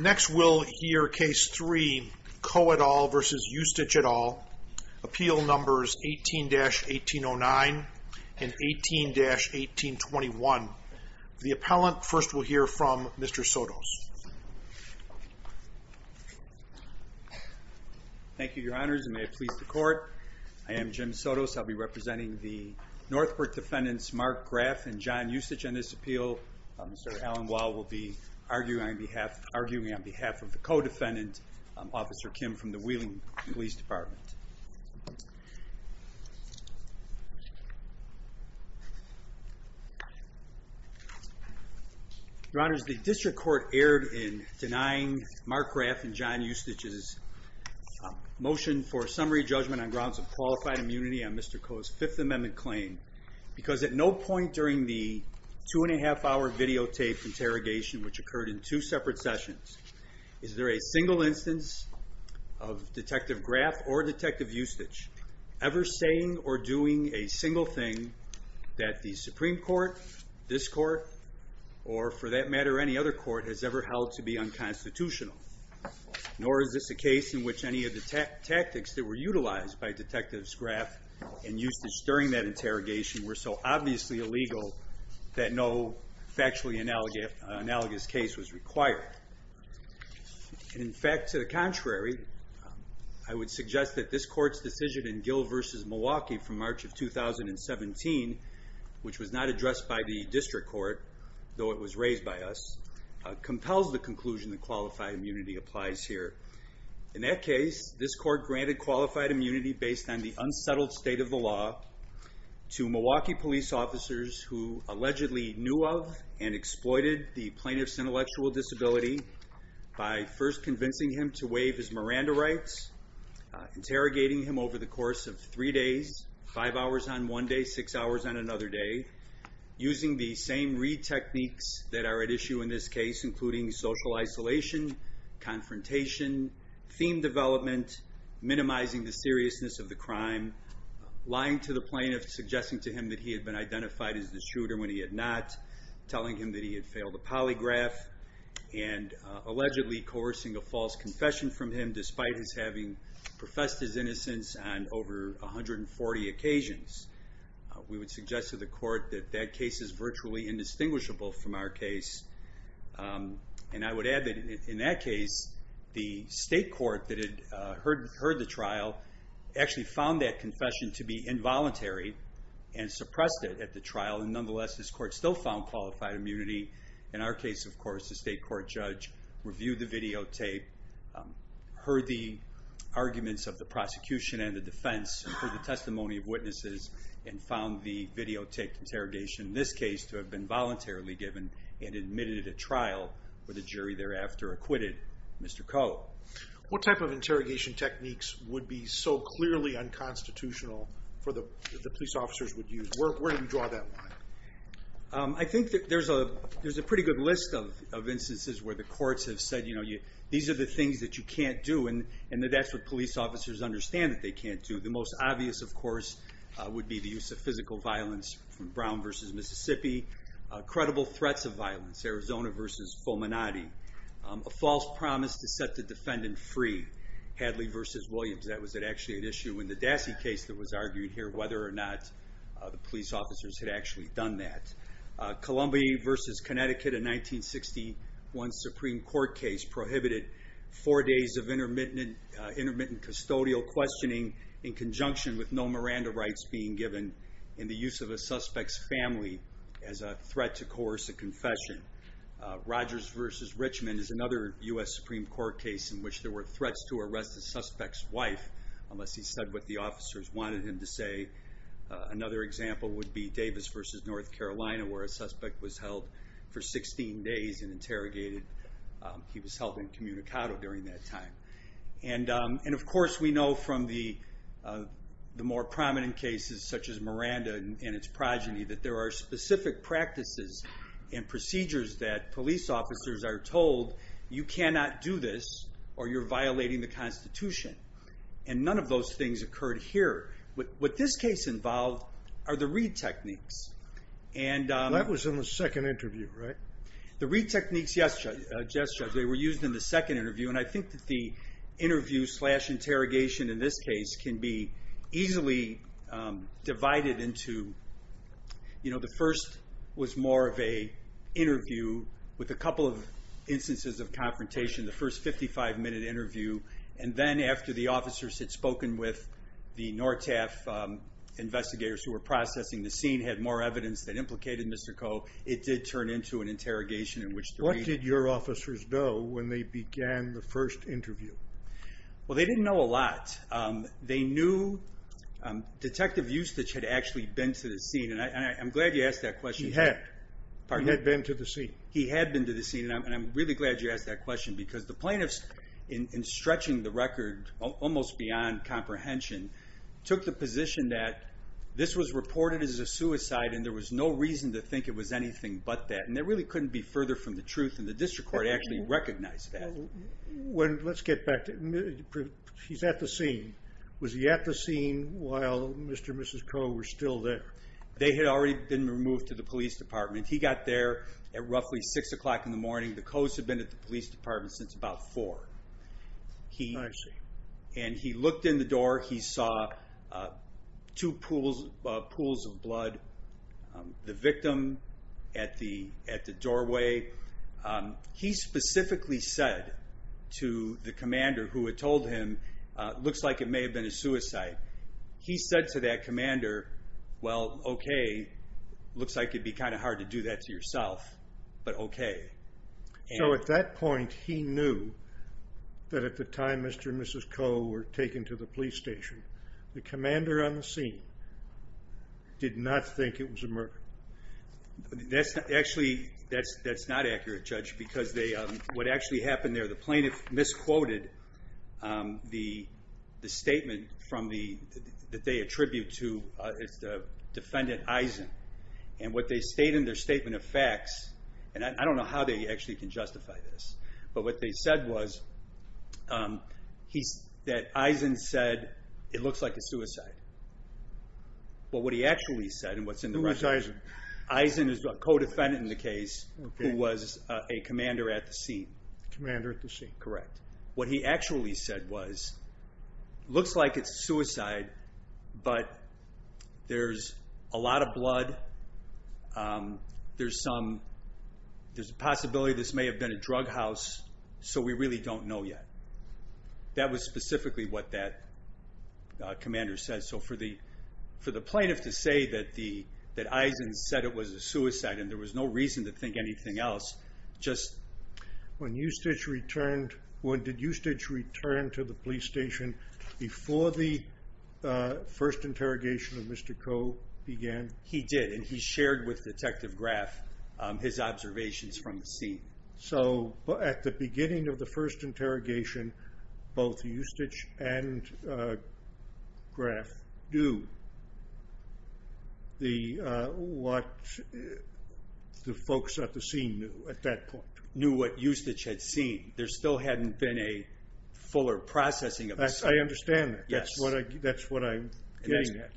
Next we'll hear case 3, Koh et al. v. Ustich et al., appeal numbers 18-1809 and 18-1821. The appellant first we'll hear from Mr. Sotos. Thank you, your honors, and may it please the court. I am Jim Sotos. I'll be representing the Northbrook defendants Mark Graff and John Ustich on this appeal. Mr. Alan Wall will be arguing on behalf of the co-defendant, Officer Kim from the Wheeling Police Department. Your honors, the district court erred in denying Mark Graff and John Ustich's motion for summary judgment on grounds of qualified immunity on Mr. Koh's Fifth Amendment claim. Because at no point during the two and a half hour videotaped interrogation, which occurred in two separate sessions, is there a single instance of Detective Graff or Detective Ustich ever saying or doing a single thing that the Supreme Court, this court, or for that matter any other court, has ever held to be unconstitutional. Nor is this a case in which any of the tactics that were utilized by Detective Graff and Ustich during that interrogation were so obviously illegal that no factually analogous case was required. In fact, to the contrary, I would suggest that this court's decision in Gill v. Milwaukee from March of 2017, which was not addressed by the district court, though it was raised by us, compels the conclusion that qualified immunity applies here. In that case, this court granted qualified immunity based on the unsettled state of the law to Milwaukee police officers who allegedly knew of and exploited the plaintiff's intellectual disability by first convincing him to waive his Miranda rights, interrogating him over the course of three days, five hours on one day, six hours on another day, using the same re-techniques that are at issue in this case, including social isolation, confrontation, theme development, minimizing the seriousness of the crime, lying to the plaintiff, suggesting to him that he had been identified as the shooter when he had not, telling him that he had failed a polygraph, and allegedly coercing a false confession from him despite his having professed his innocence on over 140 occasions. We would suggest to the court that that case is virtually indistinguishable from our case. And I would add that in that case, the state court that had heard the trial actually found that confession to be involuntary and suppressed it at the trial. And nonetheless, this court still found qualified immunity. In our case, of course, the state court judge reviewed the videotape, heard the arguments of the prosecution and the defense, heard the testimony of witnesses, and found the videotape interrogation in this case to have been voluntarily given and admitted at a trial, where the jury thereafter acquitted Mr. Coe. What type of interrogation techniques would be so clearly unconstitutional for the police officers would use? Where do you draw that line? I think that there's a pretty good list of instances where the courts have said, these are the things that you can't do, and that that's what police officers understand that they can't do. The most obvious, of course, would be the use of physical violence from Brown versus Mississippi, credible threats of violence, Arizona versus Fulminati, a false promise to set the defendant free, Hadley versus Williams. That was actually an issue in the Dassey case that was argued here, whether or not the police officers had actually done that. Columbia versus Connecticut, a 1961 Supreme Court case prohibited four days of intermittent custodial questioning in conjunction with no Miranda rights being given in the use of a suspect's family as a threat to coercive confession. Rogers versus Richmond is another US Supreme Court case in which there were threats to arrest the suspect's wife, unless he said what the officers wanted him to say. Another example would be Davis versus North Carolina, where a suspect was held for 16 days and interrogated. He was held incommunicado during that time. And of course, we know from the more prominent cases, such as Miranda and its progeny, that there are specific practices and procedures that police officers are told, you cannot do this or you're violating the Constitution. And none of those things occurred here. What this case involved are the Reed techniques. That was in the second interview, right? The Reed techniques, yes, Judge. They were used in the second interview. And I think that the interview slash interrogation in this case can be easily divided into, you know, the first was more of a interview with a couple of instances of confrontation, the first 55 minute interview. And then after the officers had spoken with the NORTAF investigators who were processing the scene, had more evidence that implicated Mr. Reed. What did your officers know when they began the first interview? Well, they didn't know a lot. They knew Detective Eustich had actually been to the scene. And I'm glad you asked that question. He had. He had been to the scene. He had been to the scene. And I'm really glad you asked that question, because the plaintiffs, in stretching the record almost beyond comprehension, took the position that this was reported as a suicide. And there was no reason to think it was anything but that. And that really couldn't be further from the truth. And the district court actually recognized that. Let's get back to, he's at the scene. Was he at the scene while Mr. and Mrs. Coe were still there? They had already been removed to the police department. He got there at roughly 6 o'clock in the morning. The Coes had been at the police department since about 4. I see. And he looked in the door. He saw two pools of blood. The victim at the doorway. He specifically said to the commander who had told him, looks like it may have been a suicide. He said to that commander, well, okay, looks like it'd be kind of hard to do that to yourself, but okay. So at that point, he knew that at the time Mr. and Mrs. Coe were taken to the police station, the commander on the scene did not think it was a murder. That's actually, that's not accurate, Judge, because they, what actually happened there, the plaintiff misquoted the statement from the, that they attribute to, it's the defendant Eisen. And what they state in their statement of facts, and I don't know how they actually can justify this. But what they said was, that Eisen said, it looks like a suicide. But what he actually said, and what's in the record. Who was Eisen? Eisen is a co-defendant in the case who was a commander at the scene. Commander at the scene. Correct. What he actually said was, looks like it's a suicide, but there's a lot of blood. There's some, there's a possibility this may have been a drug house, so we really don't know yet. That was specifically what that commander said. So for the plaintiff to say that the, that Eisen said it was a suicide, and there was no reason to think anything else, just. When Eustich returned, when did Eustich return to the police station before the first interrogation of Mr. Coe began? He did, and he shared with Detective Graff his observations from the scene. So at the beginning of the first interrogation, both Eustich and Graff knew what the folks at the scene knew at that point. Knew what Eustich had seen. There still hadn't been a fuller processing of the scene. I understand that. Yes. That's what I'm getting at.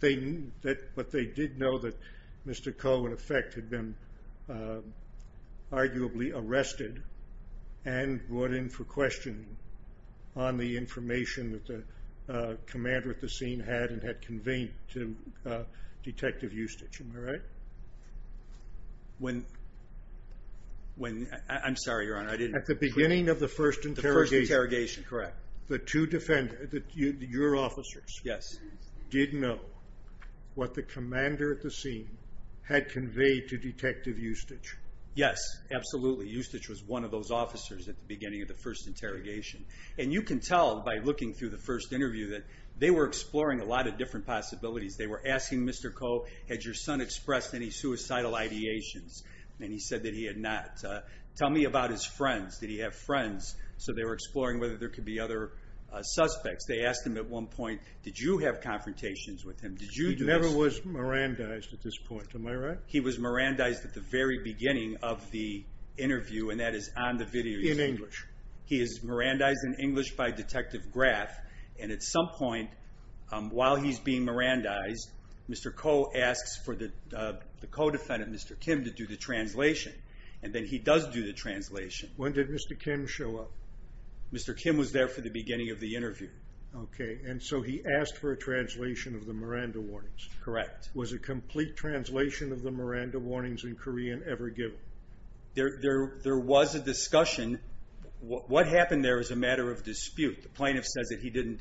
They, that, but they did know that Mr. Coe, in effect, had been arguably arrested and brought in for questioning on the information that the commander at the scene had and had conveyed to Detective Eustich, am I right? When, when, I'm sorry, Your Honor, I didn't. At the beginning of the first interrogation. The first interrogation, correct. The two defendants, your officers. Yes. Did know what the commander at the scene had conveyed to Detective Eustich. Yes, absolutely. Eustich was one of those officers at the beginning of the first interrogation. And you can tell by looking through the first interview that they were exploring a lot of different possibilities. They were asking Mr. Coe, had your son expressed any suicidal ideations? And he said that he had not. Tell me about his friends. Did he have friends? So they were exploring whether there could be other suspects. They asked him at one point, did you have confrontations with him? Did you do this? He never was Mirandized at this point, am I right? He was Mirandized at the very beginning of the interview, and that is on the video. In English. He is Mirandized in English by Detective Graff. And at some point, while he's being Mirandized, Mr. Coe asks for the co-defendant, Mr. Kim, to do the translation. And then he does do the translation. When did Mr. Kim show up? Mr. Kim was there for the beginning of the interview. Okay, and so he asked for a translation of the Miranda warnings. Correct. Was a complete translation of the Miranda warnings in Korean ever given? There was a discussion. What happened there is a matter of dispute. The plaintiff says that he didn't,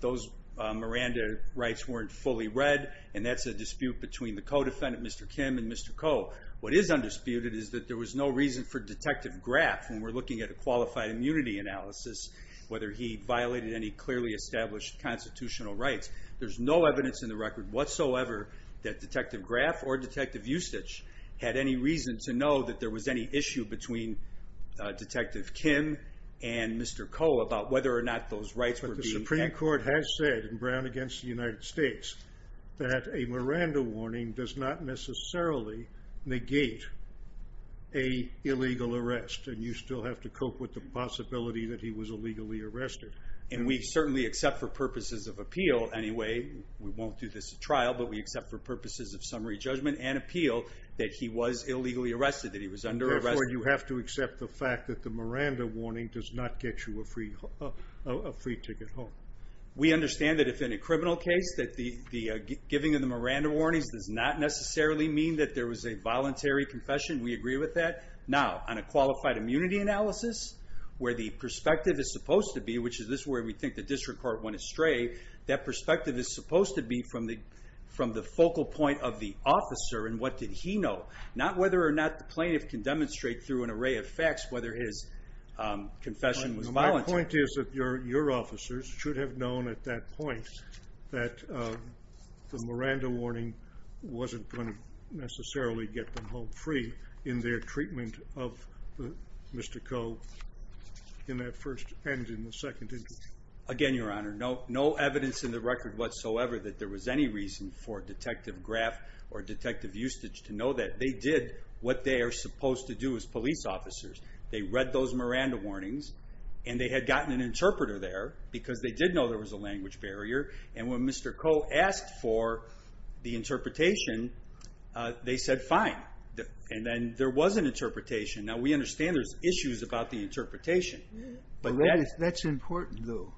those Miranda rights weren't fully read, and that's a dispute between the co-defendant, Mr. Kim, and Mr. Coe. What is undisputed is that there was no reason for Detective Graff, when we're looking at a qualified immunity analysis, whether he violated any clearly established constitutional rights. There's no evidence in the record whatsoever that Detective Graff or Detective Ustich had any reason to know that there was any issue between Detective Kim and Mr. Coe about whether or not those rights were being. But the Supreme Court has said in Brown against the United States, that a Miranda warning does not necessarily negate a illegal arrest. And you still have to cope with the possibility that he was illegally arrested. And we certainly accept for purposes of appeal anyway, we won't do this at trial, but we accept for purposes of summary judgment and appeal that he was illegally arrested, that he was under arrest. Therefore, you have to accept the fact that the Miranda warning does not get you a free ticket home. We understand that if in a criminal case, that the giving of the Miranda warnings does not necessarily mean that there was a voluntary confession. We agree with that. Now, on a qualified immunity analysis, where the perspective is supposed to be, which is this where we think the district court went astray. That perspective is supposed to be from the focal point of the officer and what did he know. Not whether or not the plaintiff can demonstrate through an array of facts whether his confession was voluntary. My point is that your officers should have known at that point that the Miranda warning wasn't going to necessarily get them home free in their treatment of Mr. Coe in that first and in the second interview. Again, your honor, no evidence in the record whatsoever that there was any reason for Detective Graff or Detective Eustich to know that. They did what they are supposed to do as police officers. They read those Miranda warnings, and they had gotten an interpreter there because they did know there was a language barrier. And when Mr. Coe asked for the interpretation, they said fine. And then there was an interpretation. Now, we understand there's issues about the interpretation. But that's important, though,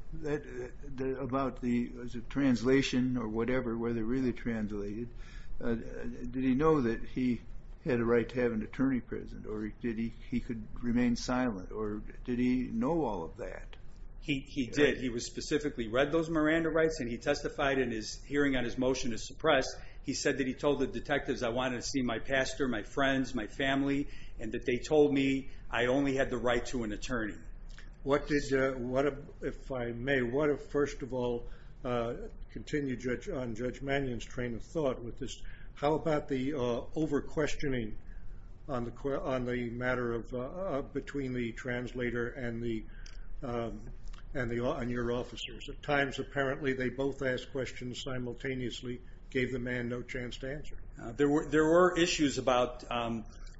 about the translation or whatever, whether it really translated. Did he know that he had a right to have an attorney present, or he could remain silent, or did he know all of that? He did. He specifically read those Miranda rights, and he testified in his hearing on his motion to suppress. He said that he told the detectives, I wanted to see my pastor, my friends, my family, and that they told me I only had the right to an attorney. If I may, what if, first of all, continue on Judge Mannion's train of thought with this, how about the over-questioning between the translator and your officers? At times, apparently, they both asked questions simultaneously, gave the man no chance to answer. There were issues about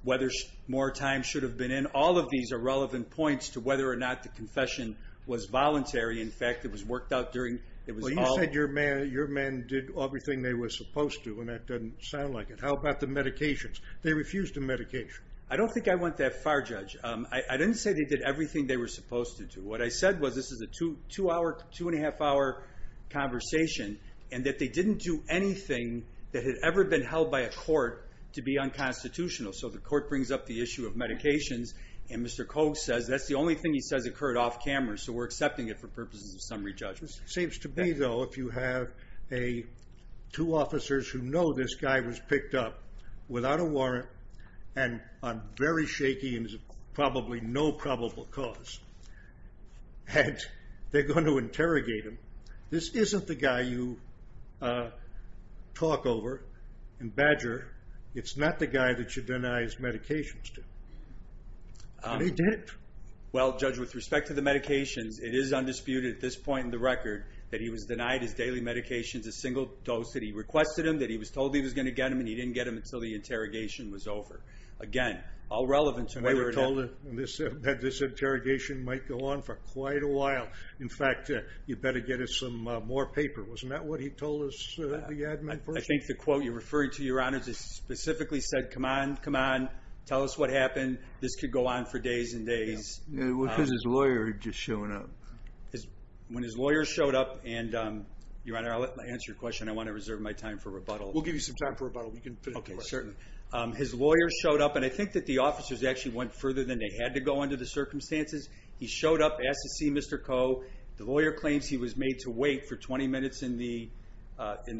whether more time should have been in. All of these are relevant points to whether or not the confession was voluntary. In fact, it was worked out during, it was all- Well, you said your men did everything they were supposed to, and that doesn't sound like it. How about the medications? They refused the medication. I don't think I went that far, Judge. I didn't say they did everything they were supposed to do. What I said was, this is a two-and-a-half-hour conversation, and that they didn't do anything that had ever been held by a court to be unconstitutional. So, the court brings up the issue of medications, and Mr. Koch says that's the only thing he says occurred off-camera, so we're accepting it for purposes of summary judgment. It seems to be, though, if you have two officers who know this guy was picked up without a warrant and on very shaky and probably no probable cause, and they're going to interrogate him. This isn't the guy you talk over in Badger. It's not the guy that you deny his medications to, and he did it. Well, Judge, with respect to the medications, it is undisputed at this point in the record that he was denied his daily medications, a single dose that he requested them, that he was told he was going to get them, and he didn't get them until the interrogation was over. Again, all relevant to whether- We were told that this interrogation might go on for quite a while. In fact, you better get us some more paper. Wasn't that what he told us the admin person? I think the quote you're referring to, Your Honor, just specifically said, come on, come on, tell us what happened. This could go on for days and days. Yeah, because his lawyer had just shown up. When his lawyer showed up, and Your Honor, I'll answer your question. I want to reserve my time for rebuttal. We'll give you some time for rebuttal. We can finish the question. Okay, certainly. His lawyer showed up, and I think that the officers actually went further than they had to go under the circumstances. He showed up, asked to see Mr. Koh. The lawyer claims he was made to wait for 20 minutes in the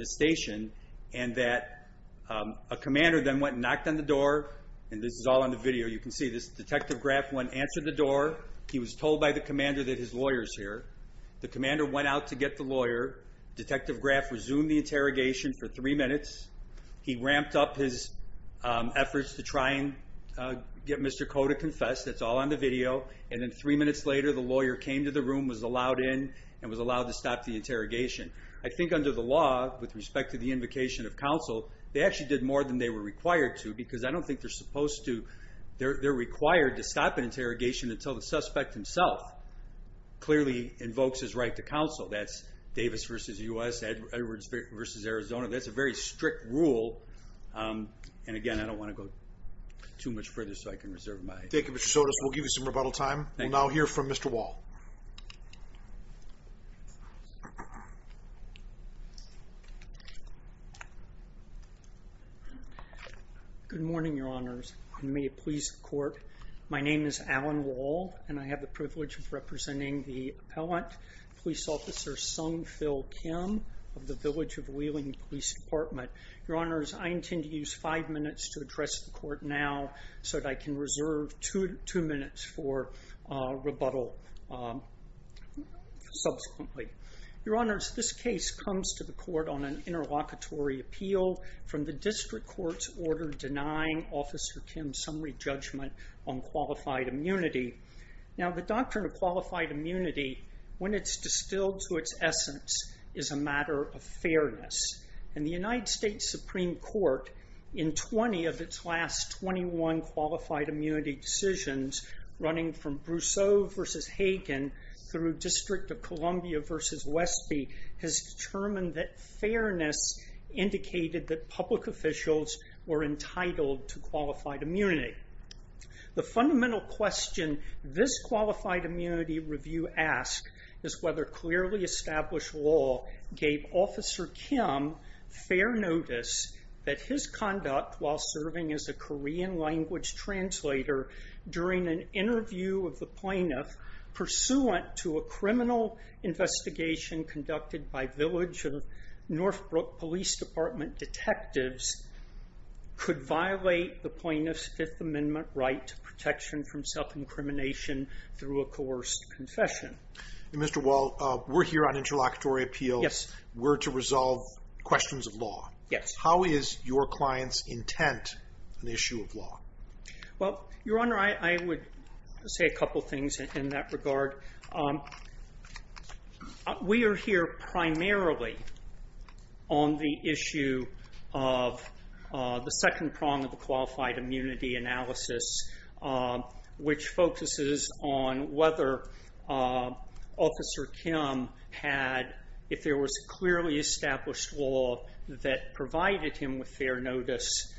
station, and that a commander then went and knocked on the door, and this is all on the video. You can see this. Detective Graff went and answered the door. He was told by the commander that his lawyer's here. The commander went out to get the lawyer. Detective Graff resumed the interrogation for three minutes. He ramped up his efforts to try and get Mr. Koh to confess. That's all on the video. And then three minutes later, the lawyer came to the room, was allowed in, and was allowed to stop the interrogation. I think under the law, with respect to the invocation of counsel, they actually did more than they were required to, because I don't think they're required to stop an interrogation until the suspect himself clearly invokes his right to counsel. That's Davis v. U.S., Edwards v. Arizona. That's a very strict rule. And again, I don't want to go too much further, so I can reserve my time. Thank you, Mr. Sotos. We'll give you some rebuttal time. We'll now hear from Mr. Wall. Good morning, Your Honors. And may it please the court, my name is Alan Wall, and I have the privilege of representing the appellant, Police Officer Sung Phil Kim of the Village of Wheeling Police Department. Your Honors, I intend to use five minutes to address the court now so that I can reserve two minutes for rebuttal subsequently. Your Honors, this case comes to the court on an interlocutory appeal from the district court's order denying Officer Kim summary judgment on qualified immunity. Now, the doctrine of qualified immunity, when it's distilled to its essence, is a matter of fairness. And the United States Supreme Court, in 20 of its last 21 qualified immunity decisions, running from Brousseau v. Hagen through District of Columbia v. Westby, has determined that fairness indicated that public officials were entitled to qualified immunity. The fundamental question this qualified immunity review asks is whether clearly established law gave Officer Kim fair notice that his conduct while serving as a Korean language translator during an interview of the plaintiff pursuant to a criminal investigation conducted by Village of Northbrook Police Department detectives could violate the plaintiff's Fifth Amendment right to protection from self-incrimination through a coerced confession. Mr. Wall, we're here on interlocutory appeals. Yes. We're to resolve questions of law. Yes. How is your client's intent on the issue of law? Well, Your Honor, I would say a couple things in that regard. We are here primarily on the issue of the second prong of the qualified immunity analysis, which focuses on whether Officer Kim had, if there was clearly established law that provided him with fair notice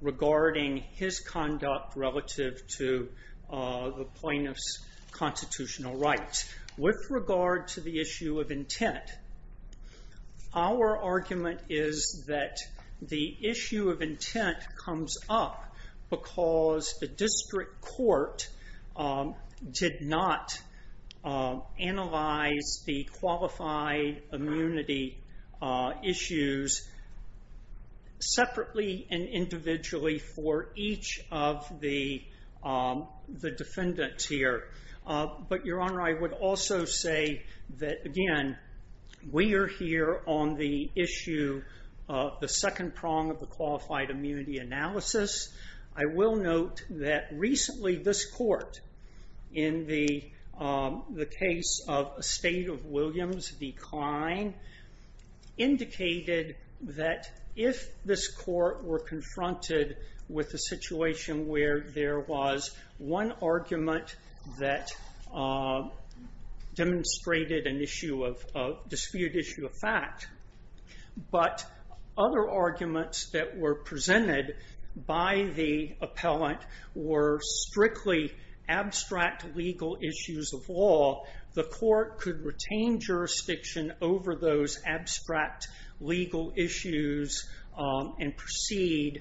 regarding his conduct relative to the plaintiff's constitutional rights. With regard to the issue of intent, our argument is that the issue of intent comes up because the district court did not analyze the qualified immunity issues separately and individually for each of the defendants here. But Your Honor, I would also say that, again, we are here on the issue of the second prong of the qualified immunity analysis. I will note that recently this court, in the case of a State of Williams decline, indicated that if this court were confronted with a situation where there was one argument that demonstrated a dispute issue of fact, but other arguments that were presented by the appellant were strictly abstract legal issues of law, the court could retain jurisdiction over those abstract legal issues and proceed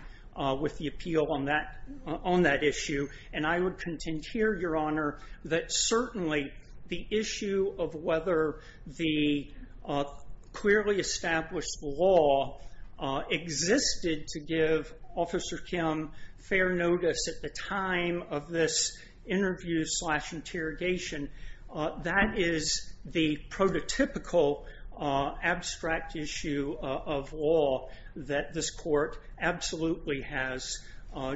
with the appeal on that issue. And I would contend here, Your Honor, that certainly the issue of whether the clearly established law existed to give Officer Kim fair notice at the time of this interview slash interrogation, that is the prototypical abstract issue of law that this court absolutely has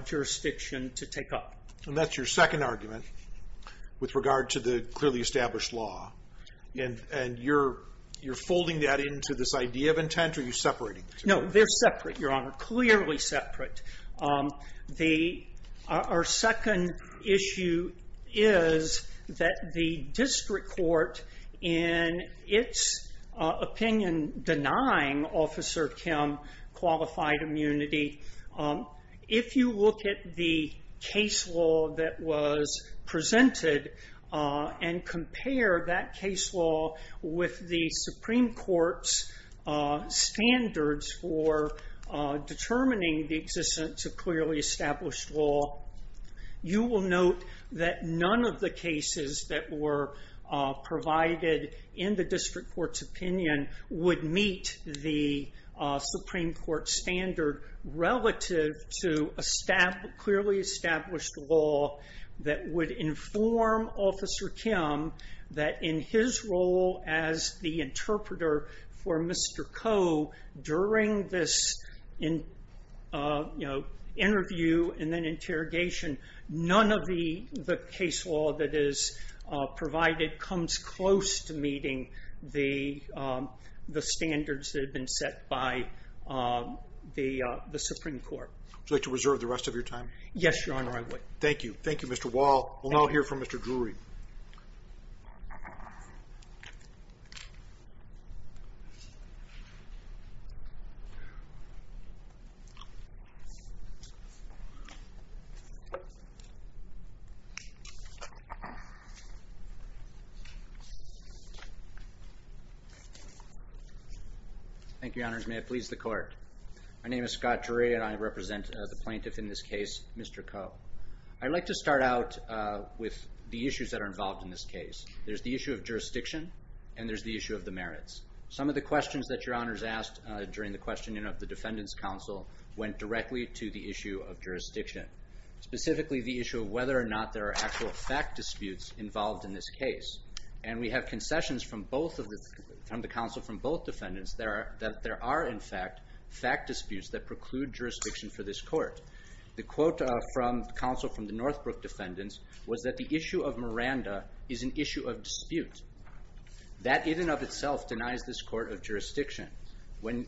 jurisdiction to take up. And that's your second argument with regard to the clearly established law. And you're folding that into this idea of intent or are you separating the two? No, they're separate, Your Honor, clearly separate. Our second issue is that the district court in its opinion denying Officer Kim qualified immunity, if you look at the case law that was presented and compare that case law with the Supreme Court's standards for determining the existence of clearly established law, you will note that none of the cases would meet the Supreme Court standard relative to clearly established law that would inform Officer Kim that in his role as the interpreter for Mr. Koh during this interview and then interrogation, none of the case law that is provided comes close to meeting the standards that have been set by the Supreme Court. Would you like to reserve the rest of your time? Yes, Your Honor, I would. Thank you. Thank you, Mr. Wall. We'll now hear from Mr. Drury. Thank you, Your Honors. May it please the court. My name is Scott Drury and I represent the plaintiff in this case, Mr. Koh. I'd like to start out with the issues that are involved in this case. There's the issue of jurisdiction and there's the issue of the merits. Some of the questions that Your Honors asked during the questioning of the Defendant's Counsel went directly to the issue of jurisdiction, specifically the issue of whether or not there are actual fact disputes involved in this case. And we have concessions from the counsel from both defendants that there are, in fact, fact disputes that preclude jurisdiction for this court. The quote from the counsel from the Northbrook defendants was that the issue of Miranda is an issue of dispute. That in and of itself denies this court of jurisdiction. When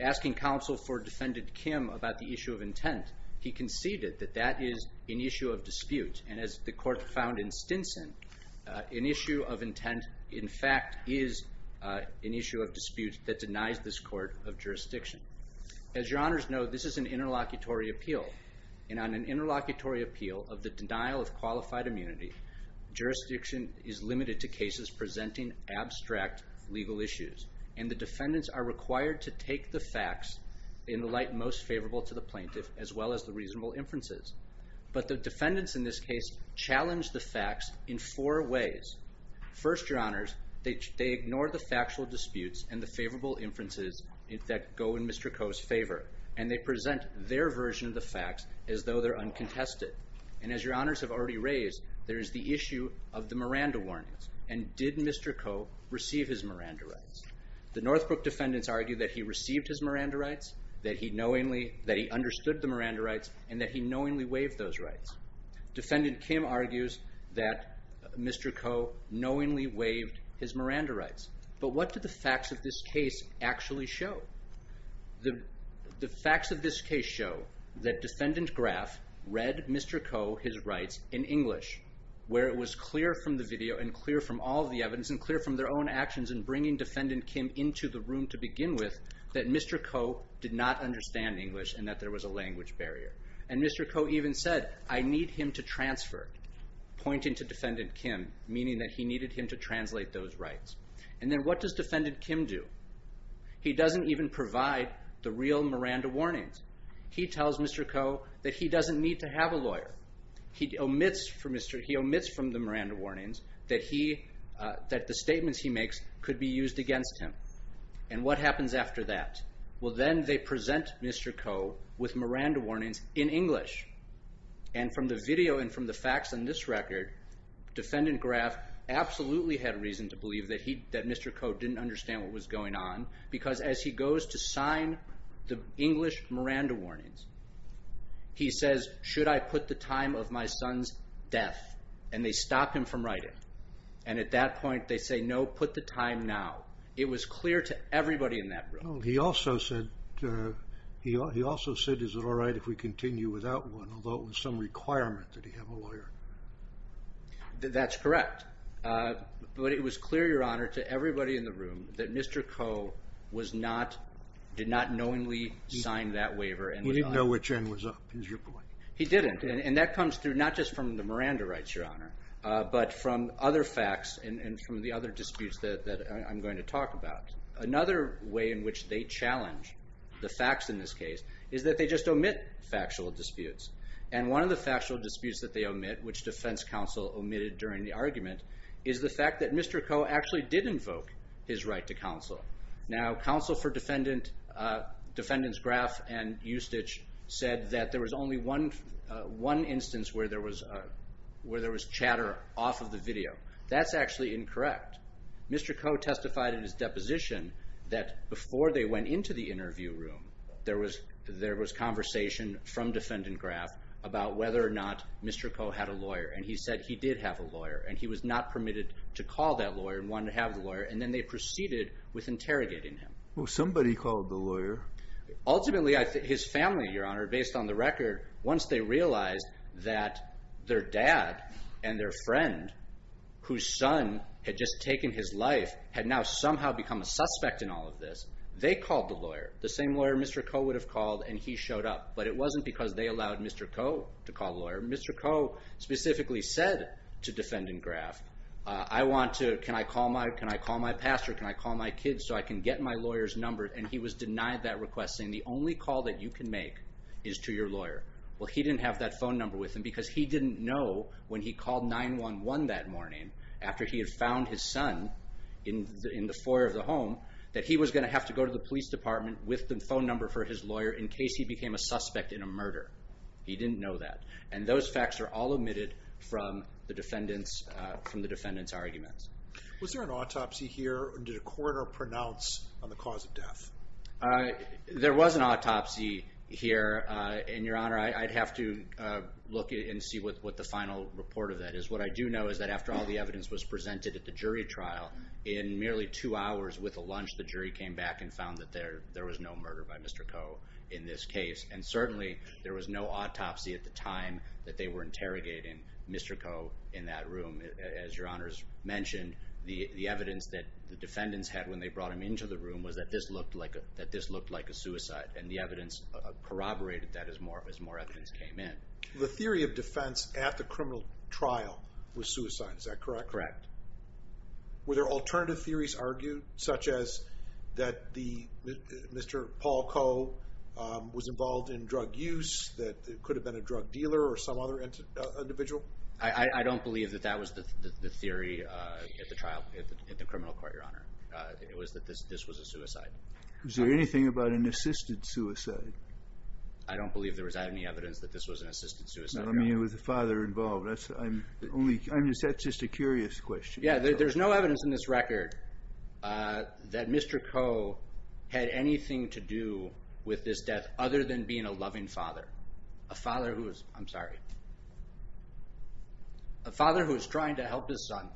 asking counsel for Defendant Kim about the issue of intent, he conceded that that is an issue of dispute. And as the court found in Stinson, an issue of intent, in fact, is an issue of dispute that denies this court of jurisdiction. As Your Honors know, this is an interlocutory appeal. And on an interlocutory appeal of the denial of qualified immunity, jurisdiction is limited to cases presenting abstract legal issues. And the defendants are required to take the facts in the light most favorable to the plaintiff as well as the reasonable inferences. But the defendants in this case challenge the facts in four ways. First, Your Honors, they ignore the factual disputes and the favorable inferences that go in Mr. Koh's favor. And they present their version of the facts as though they're uncontested. And as Your Honors have already raised, there is the issue of the Miranda warnings. And did Mr. Koh receive his Miranda rights? The Northbrook defendants argue that he received his Miranda rights, that he understood the Miranda rights, and that he knowingly waived those rights. Defendant Kim argues that Mr. Koh knowingly waived his Miranda rights. But what do the facts of this case actually show? The facts of this case show that defendant Graff read Mr. Koh his rights in English, where it was clear from the video and clear from all the evidence and clear from their own actions in bringing defendant Kim into the room to begin with that Mr. Koh did not understand English and that there was a language barrier. And Mr. Koh even said, I need him to transfer, pointing to defendant Kim, meaning that he needed him to translate those rights. And then what does defendant Kim do? He doesn't even provide the real Miranda warnings. He tells Mr. Koh that he doesn't need to have a lawyer. He omits from the Miranda warnings that the statements he makes could be used against him. And what happens after that? Well, then they present Mr. Koh with Miranda warnings in English. And from the video and from the facts on this record, defendant Graff absolutely had reason to believe that Mr. Koh didn't understand what was going on, because as he goes to sign the English Miranda warnings, he says, should I put the time of my son's death? And they stop him from writing. And at that point, they say, no, put the time now. It was clear to everybody in that room. He also said, is it all right if we continue without one, although it was some requirement that he have a lawyer? That's correct. But it was clear, Your Honor, to everybody in the room that Mr. Koh did not knowingly sign that waiver. He didn't know which end was up, is your point? He didn't. And that comes through not just from the Miranda rights, Your Honor, but from other facts and from the other disputes that I'm going to talk about. Another way in which they challenge the facts in this case is that they just omit factual disputes. And one of the factual disputes that they omit, which defense counsel omitted during the argument, is the fact that Mr. Koh actually did invoke his right to counsel. Now, counsel for defendants Graff and Ustich said that there was only one instance where there was chatter off of the video. That's actually incorrect. Mr. Koh testified in his deposition that before they went into the interview room, there was conversation from defendant Graff about whether or not Mr. Koh had a lawyer. And he said he did have a lawyer. And he was not permitted to call that lawyer and wanted to have the lawyer. And then they proceeded with interrogating him. Well, somebody called the lawyer. Ultimately, his family, Your Honor, based on the record, once they realized that their dad and their friend, whose son had just taken his life, had now somehow become a suspect in all of this, they called the lawyer, the same lawyer Mr. Koh would have called, and he showed up. But it wasn't because they allowed Mr. Koh to call the lawyer. Mr. Koh specifically said to defendant Graff, I want to, can I call my pastor? Can I call my kids so I can get my lawyer's number? And he was denied that request, saying the only call that you can make is to your lawyer. Well, he didn't have that phone number with him because he didn't know when he called 911 that morning, after he had found his son in the foyer of the home, that he was going to have to go to the police department with the phone number for his lawyer in case he became a suspect in a murder. He didn't know that. And those facts are all omitted from the defendant's arguments. Was there an autopsy here? Did a coroner pronounce on the cause of death? There was an autopsy here, and Your Honor, I'd have to look and see what the final report of that is. What I do know is that after all the evidence was presented at the jury trial, in merely two hours with a lunch, the jury came back and found that there was no murder by Mr. Koh in this case. And certainly, there was no autopsy at the time that they were interrogating Mr. Koh in that room. As Your Honor's mentioned, the evidence that the defendants had when they brought him into the room was that this looked like a suicide. And the evidence corroborated that as more evidence came in. The theory of defense at the criminal trial was suicide. Is that correct? Correct. Were there alternative theories argued, such as that Mr. Paul Koh was involved in drug use, that it could have been a drug dealer or some other individual? I don't believe that that was the theory at the trial, at the criminal court, Your Honor. It was that this was a suicide. Was there anything about an assisted suicide? I don't believe there was any evidence that this was an assisted suicide. I mean, with the father involved. That's just a curious question. Yeah, there's no evidence in this record that Mr. Koh had anything to do with this death, other than being a loving father. A father who was, I'm sorry, a father who was trying to help his son.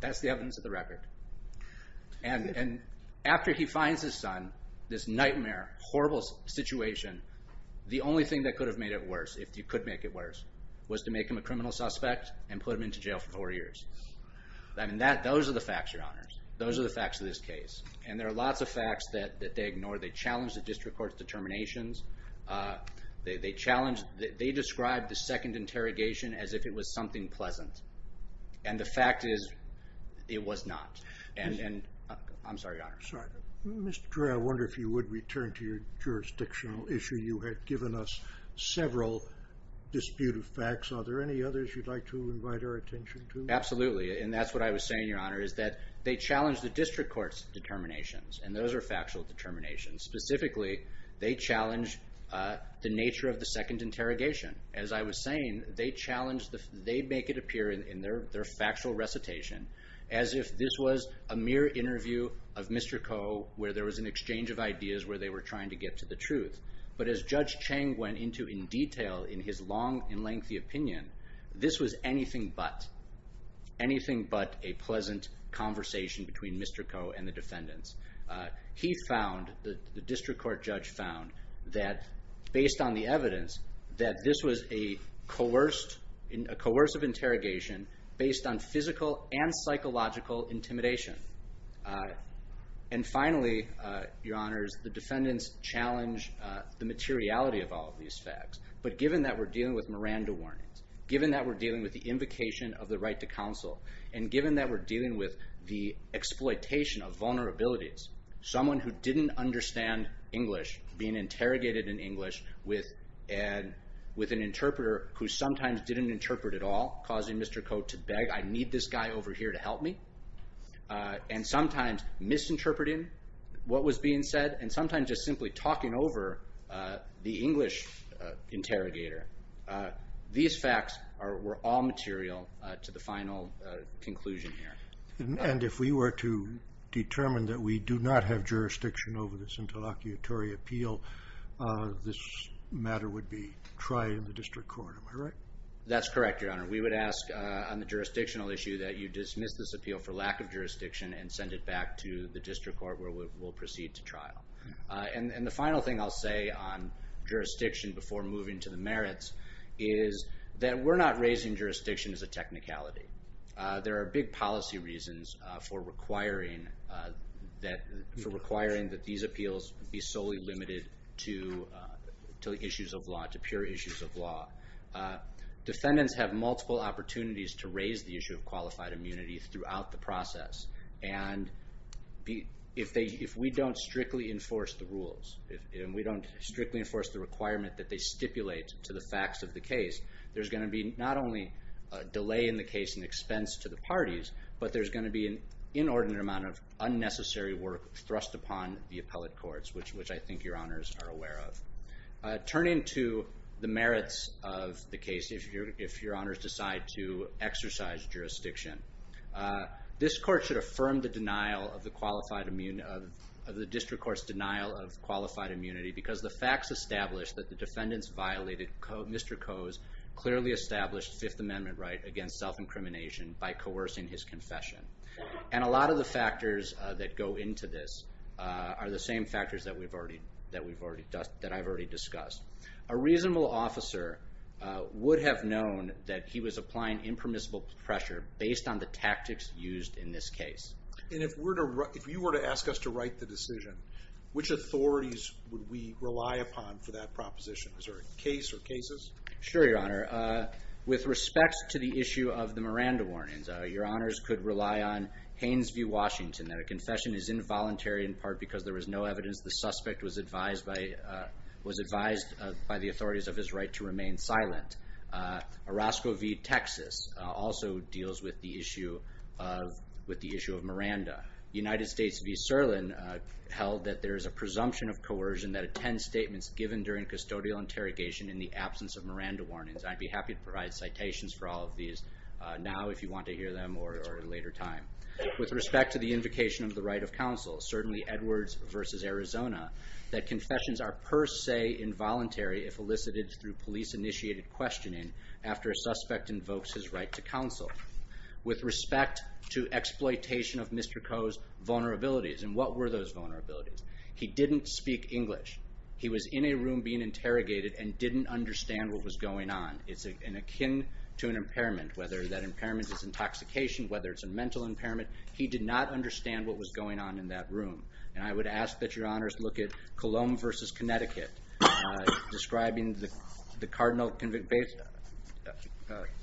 That's the evidence of the record. And after he finds his son, this nightmare, horrible situation, the only thing that could have made it worse, if you could make it worse, was to make him a criminal suspect and put him into jail for four years. Those are the facts, Your Honors. Those are the facts of this case. And there are lots of facts that they ignore. They challenge the district court's determinations. They describe the second interrogation as if it was something pleasant. And the fact is, it was not. And I'm sorry, Your Honor. Sorry. Mr. Trey, I wonder if you would return to your jurisdictional issue. You had given us several disputed facts. Are there any others you'd like to invite our attention to? Absolutely. And that's what I was saying, Your Honor, is that they challenge the district court's determinations. And those are factual determinations. Specifically, they challenge the nature of the second interrogation. As I was saying, they challenge, they make it appear in their factual recitation as if this was a mere interview of Mr. Ko, where there was an exchange of ideas, where they were trying to get to the truth. But as Judge Cheng went into in detail in his long and lengthy opinion, this was anything but. Anything but a pleasant conversation between Mr. Ko and the defendants. He found, the district court judge found, that based on the evidence, that this was a coercive interrogation based on physical and psychological intimidation. And finally, Your Honors, the defendants challenge the materiality of all of these facts. But given that we're dealing with Miranda warnings, given that we're dealing with the invocation of the right to counsel, and given that we're dealing with the exploitation of vulnerabilities, someone who didn't understand English, being interrogated in English with an interpreter who sometimes didn't interpret at all, causing Mr. Ko to beg, I need this guy over here to help me. And sometimes misinterpreting what was being said, and sometimes just simply talking over the English interrogator. These facts were all material to the final conclusion here. And if we were to determine that we do not have jurisdiction over this interlocutory appeal, this matter would be tried in the district court. Am I right? That's correct, Your Honor. We would ask on the jurisdictional issue that you dismiss this appeal for lack of jurisdiction and send it back to the district court where we will proceed to trial. And the final thing I'll say on jurisdiction before moving to the merits is that we're not raising jurisdiction as a technicality. There are big policy reasons for requiring that these appeals be solely limited to issues of law, to pure issues of law. Defendants have multiple opportunities to raise the issue of qualified immunity throughout the process. And if we don't strictly enforce the rules, if we don't strictly enforce the requirement that they stipulate to the facts of the case, there's going to be not only a delay in the case and expense to the parties, but there's going to be an inordinate amount of unnecessary work thrust upon the appellate courts, which I think Your Honors are aware of. Turning to the merits of the case, if Your Honors decide to exercise jurisdiction, this court should affirm the district court's denial of qualified immunity because the facts establish that the defendants violated Mr. Coe's clearly established Fifth Amendment right against self-incrimination by coercing his confession. And a lot of the factors that go into this are the same factors that we've already discussed, that I've already discussed. A reasonable officer would have known that he was applying impermissible pressure based on the tactics used in this case. And if you were to ask us to write the decision, which authorities would we rely upon for that proposition? Is there a case or cases? Sure, Your Honor. With respect to the issue of the Miranda warnings, Your Honors could rely on Haines v. Washington that a confession is involuntary in part because there was no evidence the suspect was advised by the authorities of his right to remain silent. Orozco v. Texas also deals with the issue of Miranda. United States v. Sirlin held that there is a presumption of coercion that attend statements given during custodial interrogation in the absence of Miranda warnings. I'd be happy to provide citations for all of these now if you want to hear them or at a later time. With respect to the invocation of the right of counsel, certainly Edwards v. Arizona, that confessions are per se involuntary if elicited through police initiated questioning after a suspect invokes his right to counsel. With respect to exploitation of Mr. Coe's vulnerabilities, and what were those vulnerabilities? He didn't speak English. He was in a room being interrogated and didn't understand what was going on. It's akin to an impairment, whether that impairment is intoxication, whether it's a mental impairment. He did not understand what was going on in that room. And I would ask that your honors look at Cologne v. Connecticut, describing the cardinal convict based...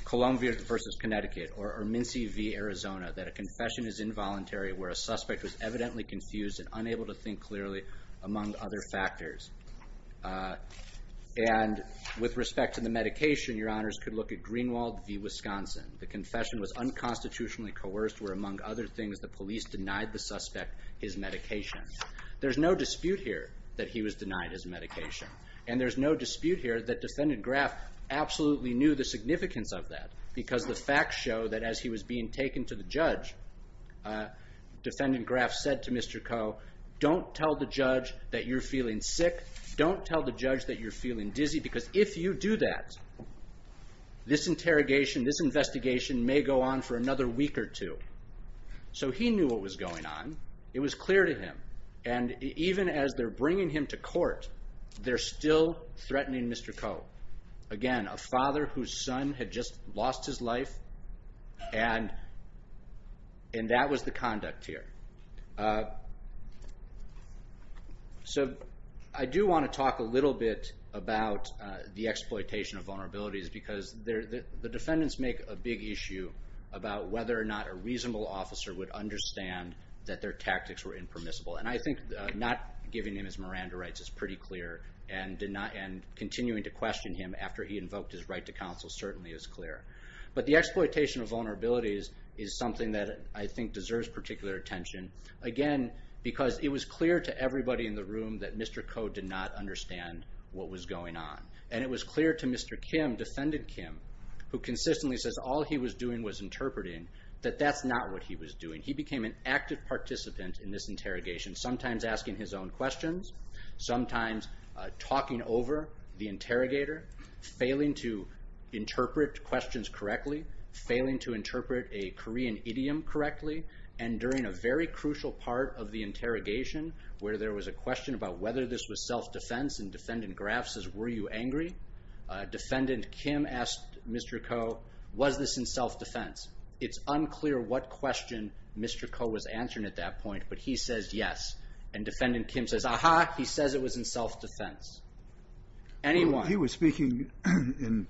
Cologne v. Connecticut, or Mincy v. Arizona, that a confession is involuntary where a suspect was evidently confused and unable to think clearly among other factors. And with respect to the medication, your honors could look at Greenwald v. Wisconsin. The confession was unconstitutionally coerced where among other things, the police denied the suspect his medication. There's no dispute here that he was denied his medication. And there's no dispute here that Defendant Graff absolutely knew the significance of that because the facts show that as he was being taken to the judge, Defendant Graff said to Mr. Coe, don't tell the judge that you're feeling sick. Don't tell the judge that you're feeling dizzy because if you do that, this interrogation, this investigation may go on for another week or two. So he knew what was going on. It was clear to him. And even as they're bringing him to court, they're still threatening Mr. Coe. Again, a father whose son had just lost his life and that was the conduct here. So I do want to talk a little bit about the exploitation of vulnerabilities because the defendants make a big issue about whether or not a reasonable officer would understand that their tactics were impermissible. And I think not giving him his Miranda rights is pretty clear and continuing to question him after he invoked his right to counsel certainly is clear. But the exploitation of vulnerabilities is something that I think deserves particular attention. Again, because it was clear to everybody in the room that Mr. Coe did not understand what was going on. And it was clear to Mr. Kim, Defendant Kim, who consistently says all he was doing was interpreting, that that's not what he was doing. He became an active participant in this interrogation, sometimes asking his own questions, sometimes talking over the interrogator, failing to interpret questions correctly, failing to interpret a Korean idiom correctly. And during a very crucial part of the interrogation where there was a question about whether this was self-defense and Defendant Graf says, were you angry? Defendant Kim asked Mr. Coe, was this in self-defense? It's unclear what question Mr. Coe was answering at that point, but he says yes. And Defendant Kim says, aha, he says it was in self-defense. Anyone. He was speaking in,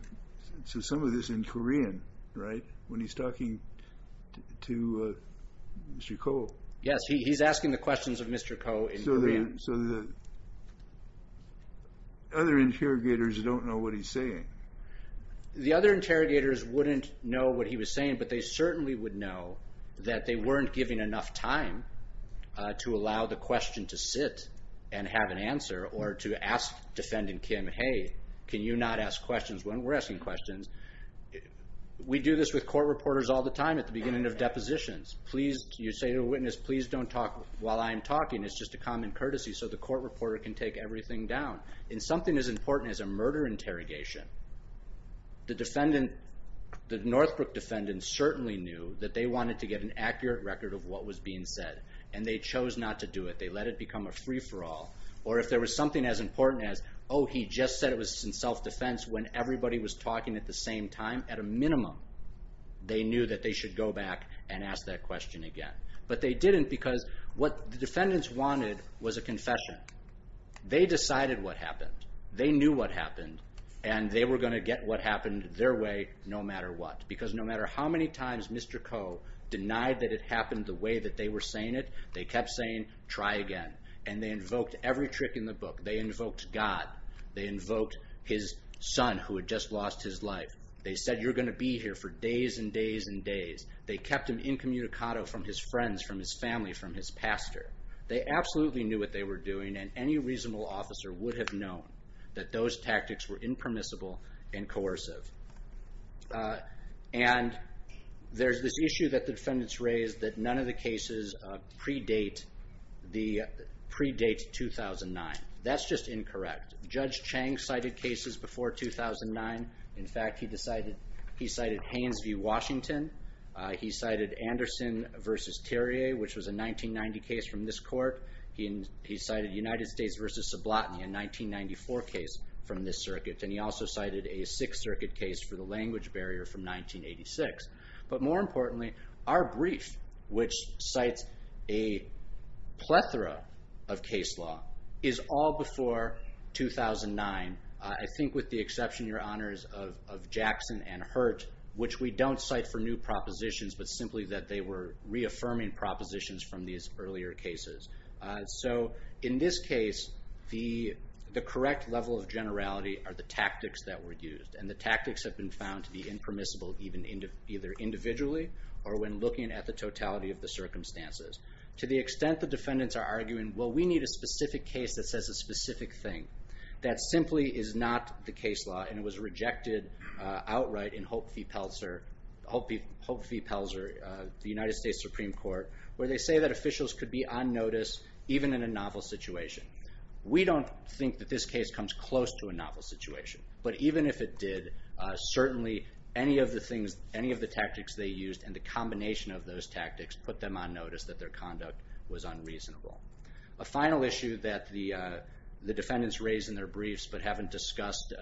so some of this in Korean, right? When he's talking to Mr. Coe. Yes, he's asking the questions of Mr. Coe in Korean. So the other interrogators don't know what he's saying. The other interrogators wouldn't know what he was saying, but they certainly would know that they weren't giving enough time to allow the question to sit and have an answer or to ask Defendant Kim, hey, can you not ask questions when we're asking questions? We do this with court reporters all the time at the beginning of depositions. Please, you say to a witness, please don't talk while I'm talking. It's just a common courtesy. So the court reporter can take everything down in something as important as a murder interrogation. The defendant, the Northbrook defendant certainly knew that they wanted to get an accurate record of what was being said and they chose not to do it. They let it become a free for all. Or if there was something as important as, oh, he just said it was in self-defense when everybody was talking at the same time, at a minimum, they knew that they should go back and ask that question again. But they didn't because what the defendants wanted was a confession. They decided what happened. They knew what happened and they were going to get what happened their way no matter what. Because no matter how many times Mr. Koh denied that it happened the way that they were saying it, they kept saying, try again. And they invoked every trick in the book. They invoked God. They invoked his son who had just lost his life. They said, you're going to be here for days and days and days. They kept him incommunicado from his friends, from his family, from his pastor. They absolutely knew what they were doing and any reasonable officer would have known that those tactics were impermissible and coercive. And there's this issue that the defendants raised that none of the cases predate 2009. That's just incorrect. Judge Chang cited cases before 2009. In fact, he cited Haines v. Washington. He cited Anderson v. Therrier which was a 1990 case from this court. He cited United States v. Sublotny, a 1994 case from this circuit. And he also cited a Sixth Circuit case for the language barrier from 1986. But more importantly, our brief which cites a plethora of case law is all before 2009. I think with the exception, Your Honors, of Jackson and Hurt which we don't cite for new propositions but simply that they were reaffirming propositions from these earlier cases. So in this case, the correct level of generality are the tactics that were used. And the tactics have been found to be impermissible even either individually or when looking at the totality of the circumstances. To the extent the defendants are arguing, well, we need a specific case that says a specific thing. That simply is not the case law and it was rejected outright in Hope v. Pelzer, the United States Supreme Court, where they say that officials could be on notice even in a novel situation. We don't think that this case comes close to a novel situation. But even if it did, certainly any of the tactics they used and the combination of those tactics put them on notice that their conduct was unreasonable. A final issue that the defendants raised in their briefs but haven't discussed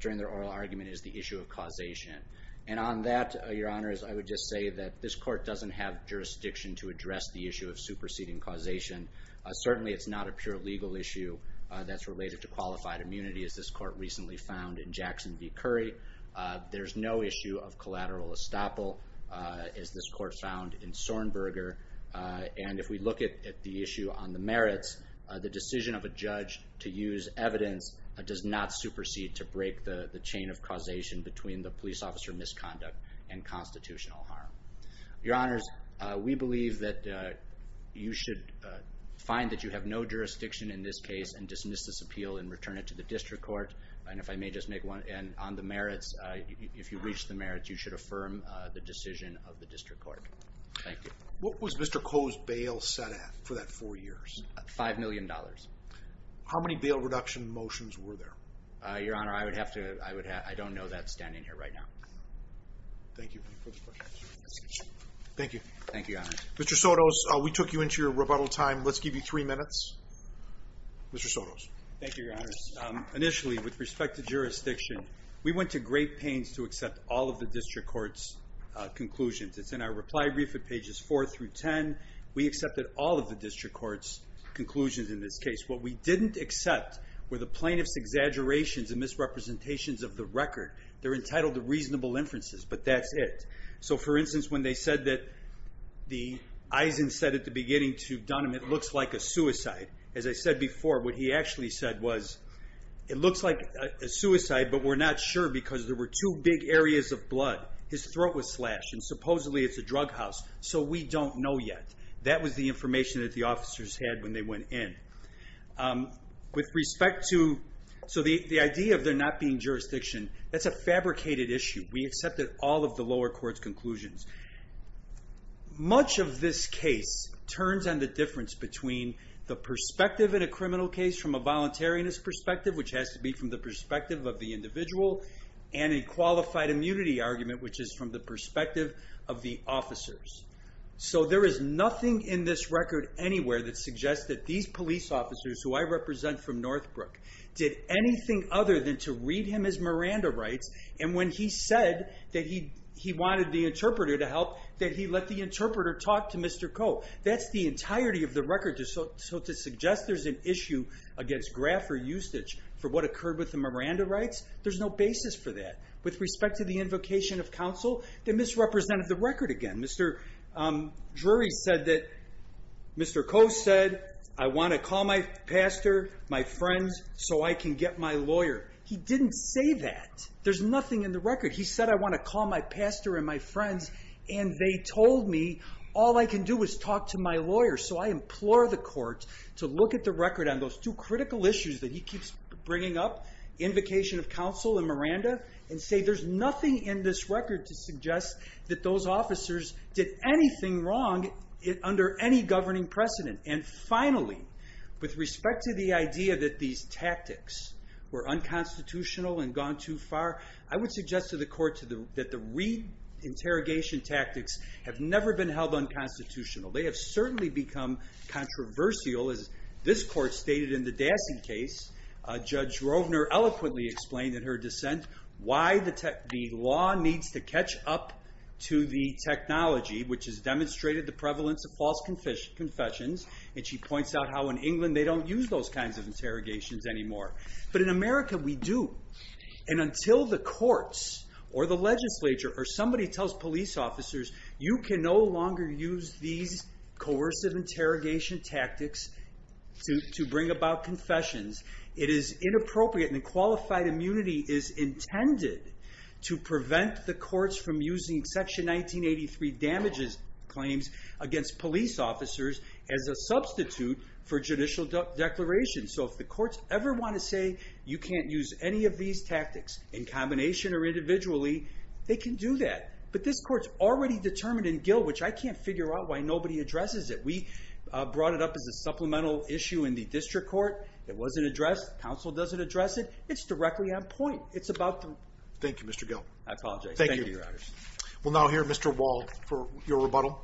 during their oral argument is the issue of causation. And on that, Your Honors, I would just say that this court doesn't have jurisdiction to address the issue of superseding causation. Certainly, it's not a pure legal issue that's related to qualified immunity as this court recently found in Jackson v. Curry. There's no issue of collateral estoppel as this court found in Sornberger. And if we look at the issue on the merits, the decision of a judge to use evidence does not supersede to break the chain of causation between the police officer misconduct and constitutional harm. Your Honors, we believe that you should find that you have no jurisdiction in this case and dismiss this appeal and return it to the district court. And if I may just make one, and on the merits, if you reach the merits, you should affirm the decision of the district court. Thank you. What was Mr. Koh's bail set at for that four years? Five million dollars. How many bail reduction motions were there? Your Honor, I would have to, I don't know that standing here right now. Thank you for the question. Thank you. Thank you, Your Honor. Mr. Sotos, we took you into your rebuttal time. Let's give you three minutes. Mr. Sotos. Thank you, Your Honors. Initially, with respect to jurisdiction, we went to great pains to accept all of the district court's conclusions. It's in our reply brief at pages four through 10. We accepted all of the district court's conclusions in this case. What we didn't accept were the plaintiff's exaggerations and misrepresentations of the record. They're entitled to reasonable inferences, but that's it. For instance, when they said that the Eisen said at the beginning to Dunham, it looks like a suicide. As I said before, what he actually said was, it looks like a suicide, but we're not sure because there were two big areas of blood. His throat was slashed and supposedly it's a drug house, so we don't know yet. That was the information that the officers had when they went in. With respect to, so the idea of there not being jurisdiction, that's a fabricated issue. We accepted all of the lower court's conclusions. Much of this case turns on the difference between the perspective in a criminal case from a voluntariness perspective, which has to be from the perspective of the individual, and a qualified immunity argument, which is from the perspective of the officers. There is nothing in this record anywhere that suggests that these police officers, who I represent from Northbrook, did anything other than to read him as Miranda rights, and when he said that he wanted the interpreter to help, that he let the interpreter talk to Mr. Coe. That's the entirety of the record, so to suggest there's an issue against graft or usage for what occurred with the Miranda rights, there's no basis for that. With respect to the invocation of counsel, they misrepresented the record again. Mr. Drury said that, Mr. Coe said, I want to call my pastor, my friends, so I can get my lawyer. He didn't say that. There's nothing in the record. He said, I want to call my pastor and my friends, and they told me, all I can do is talk to my lawyer, so I implore the court to look at the record on those two critical issues that he keeps bringing up, invocation of counsel and Miranda, and say there's nothing in this record to suggest that those officers did anything wrong under any governing precedent. And finally, with respect to the idea that these tactics were unconstitutional and gone too far, I would suggest to the court that the re-interrogation tactics have never been held unconstitutional. They have certainly become controversial, as this court stated in the Dassey case. Judge Rovner eloquently explained in her dissent why the law needs to catch up to the technology, which has demonstrated the prevalence of false confessions, and she points out how in England they don't use those kinds of interrogations anymore. But in America, we do. And until the courts or the legislature or somebody tells police officers you can no longer use these coercive interrogation tactics to bring about confessions, it is inappropriate and the qualified immunity is intended to prevent the courts from using Section 1983 damages claims against police officers as a substitute for judicial declarations. So if the courts ever want to say you can't use any of these tactics in combination or individually, they can do that. But this court's already determined in Gill, which I can't figure out why nobody addresses it. We brought it up as a supplemental issue in the district court. It wasn't addressed. Council doesn't address it. It's directly on point. It's about the... Thank you, Mr. Gill. I apologize. Thank you. We'll now hear Mr. Wall for your rebuttal.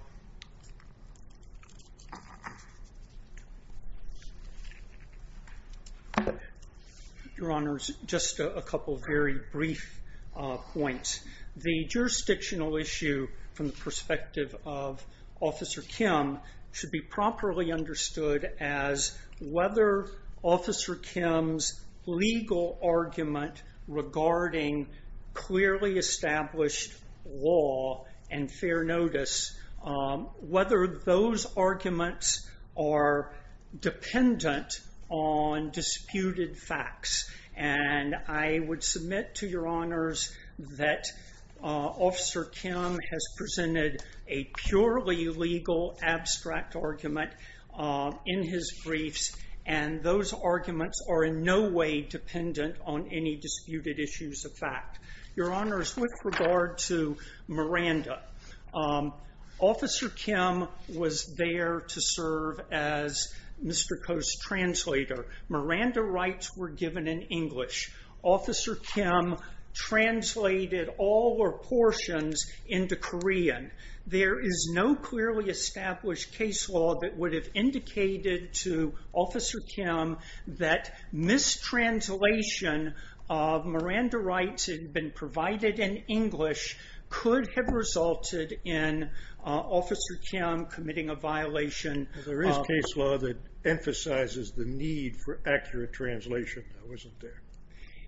Your Honor, just a couple of very brief points. The jurisdictional issue from the perspective of Officer Kim should be properly understood as whether Officer Kim's legal argument regarding clearly established law and fair notice, whether those arguments are dependent on disputed facts. And I would submit to Your Honors that Officer Kim has presented a purely legal abstract argument in his briefs. And those arguments are in no way dependent on any disputed issues of fact. Your Honors, with regard to Miranda, Officer Kim was there to serve as Mr. Koh's translator. Miranda rights were given in English. Officer Kim translated all her portions into Korean. There is no clearly established case law that would have indicated to Officer Kim that mistranslation of Miranda rights had been provided in English could have resulted in Officer Kim committing a violation. There is case law that emphasizes the need for accurate translation that wasn't there.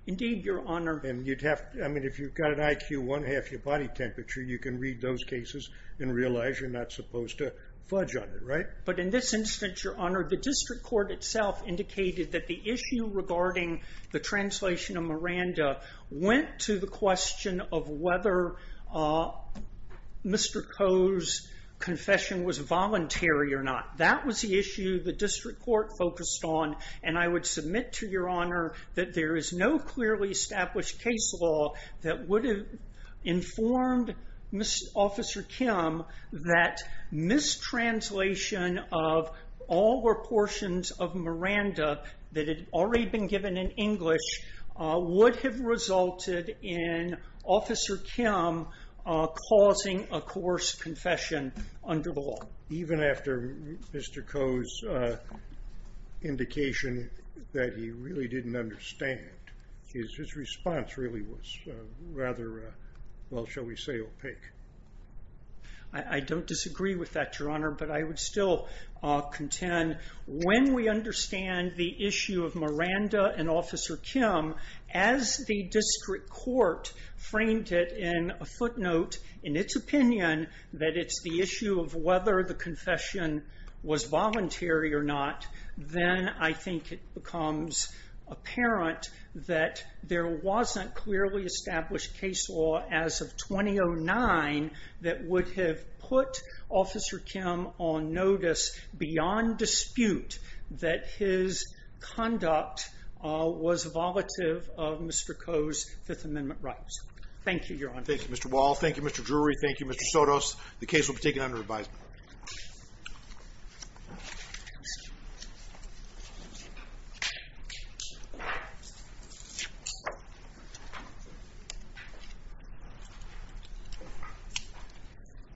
Indeed, Your Honor. And you'd have, I mean, if you've got an IQ one half your body temperature, you can read those cases and realize you're not supposed to fudge on it, right? But in this instance, Your Honor, the district court itself indicated that the issue regarding the translation of Miranda went to the question of whether Mr. Koh's confession was voluntary or not. That was the issue the district court focused on. And I would submit to Your Honor that there is no clearly established case law that would have informed Officer Kim that mistranslation of all her portions of Miranda that had already been given in English would have resulted in Officer Kim causing a coerced confession under the law. Even after Mr. Koh's indication that he really didn't understand his response really was rather, well, shall we say, opaque. I don't disagree with that, Your Honor, but I would still contend when we understand the issue of Miranda and Officer Kim as the district court framed it in a footnote in its opinion that it's the issue of whether the confession was voluntary or not, then I think it becomes apparent that there wasn't clearly established case law as of 2009 that would have put Officer Kim on notice beyond dispute that his conduct was volative of Mr. Koh's Fifth Amendment rights. Thank you, Your Honor. Thank you, Mr. Wall. Thank you, Mr. Drury. Thank you, Mr. Sotos. The case will be taken under advisement.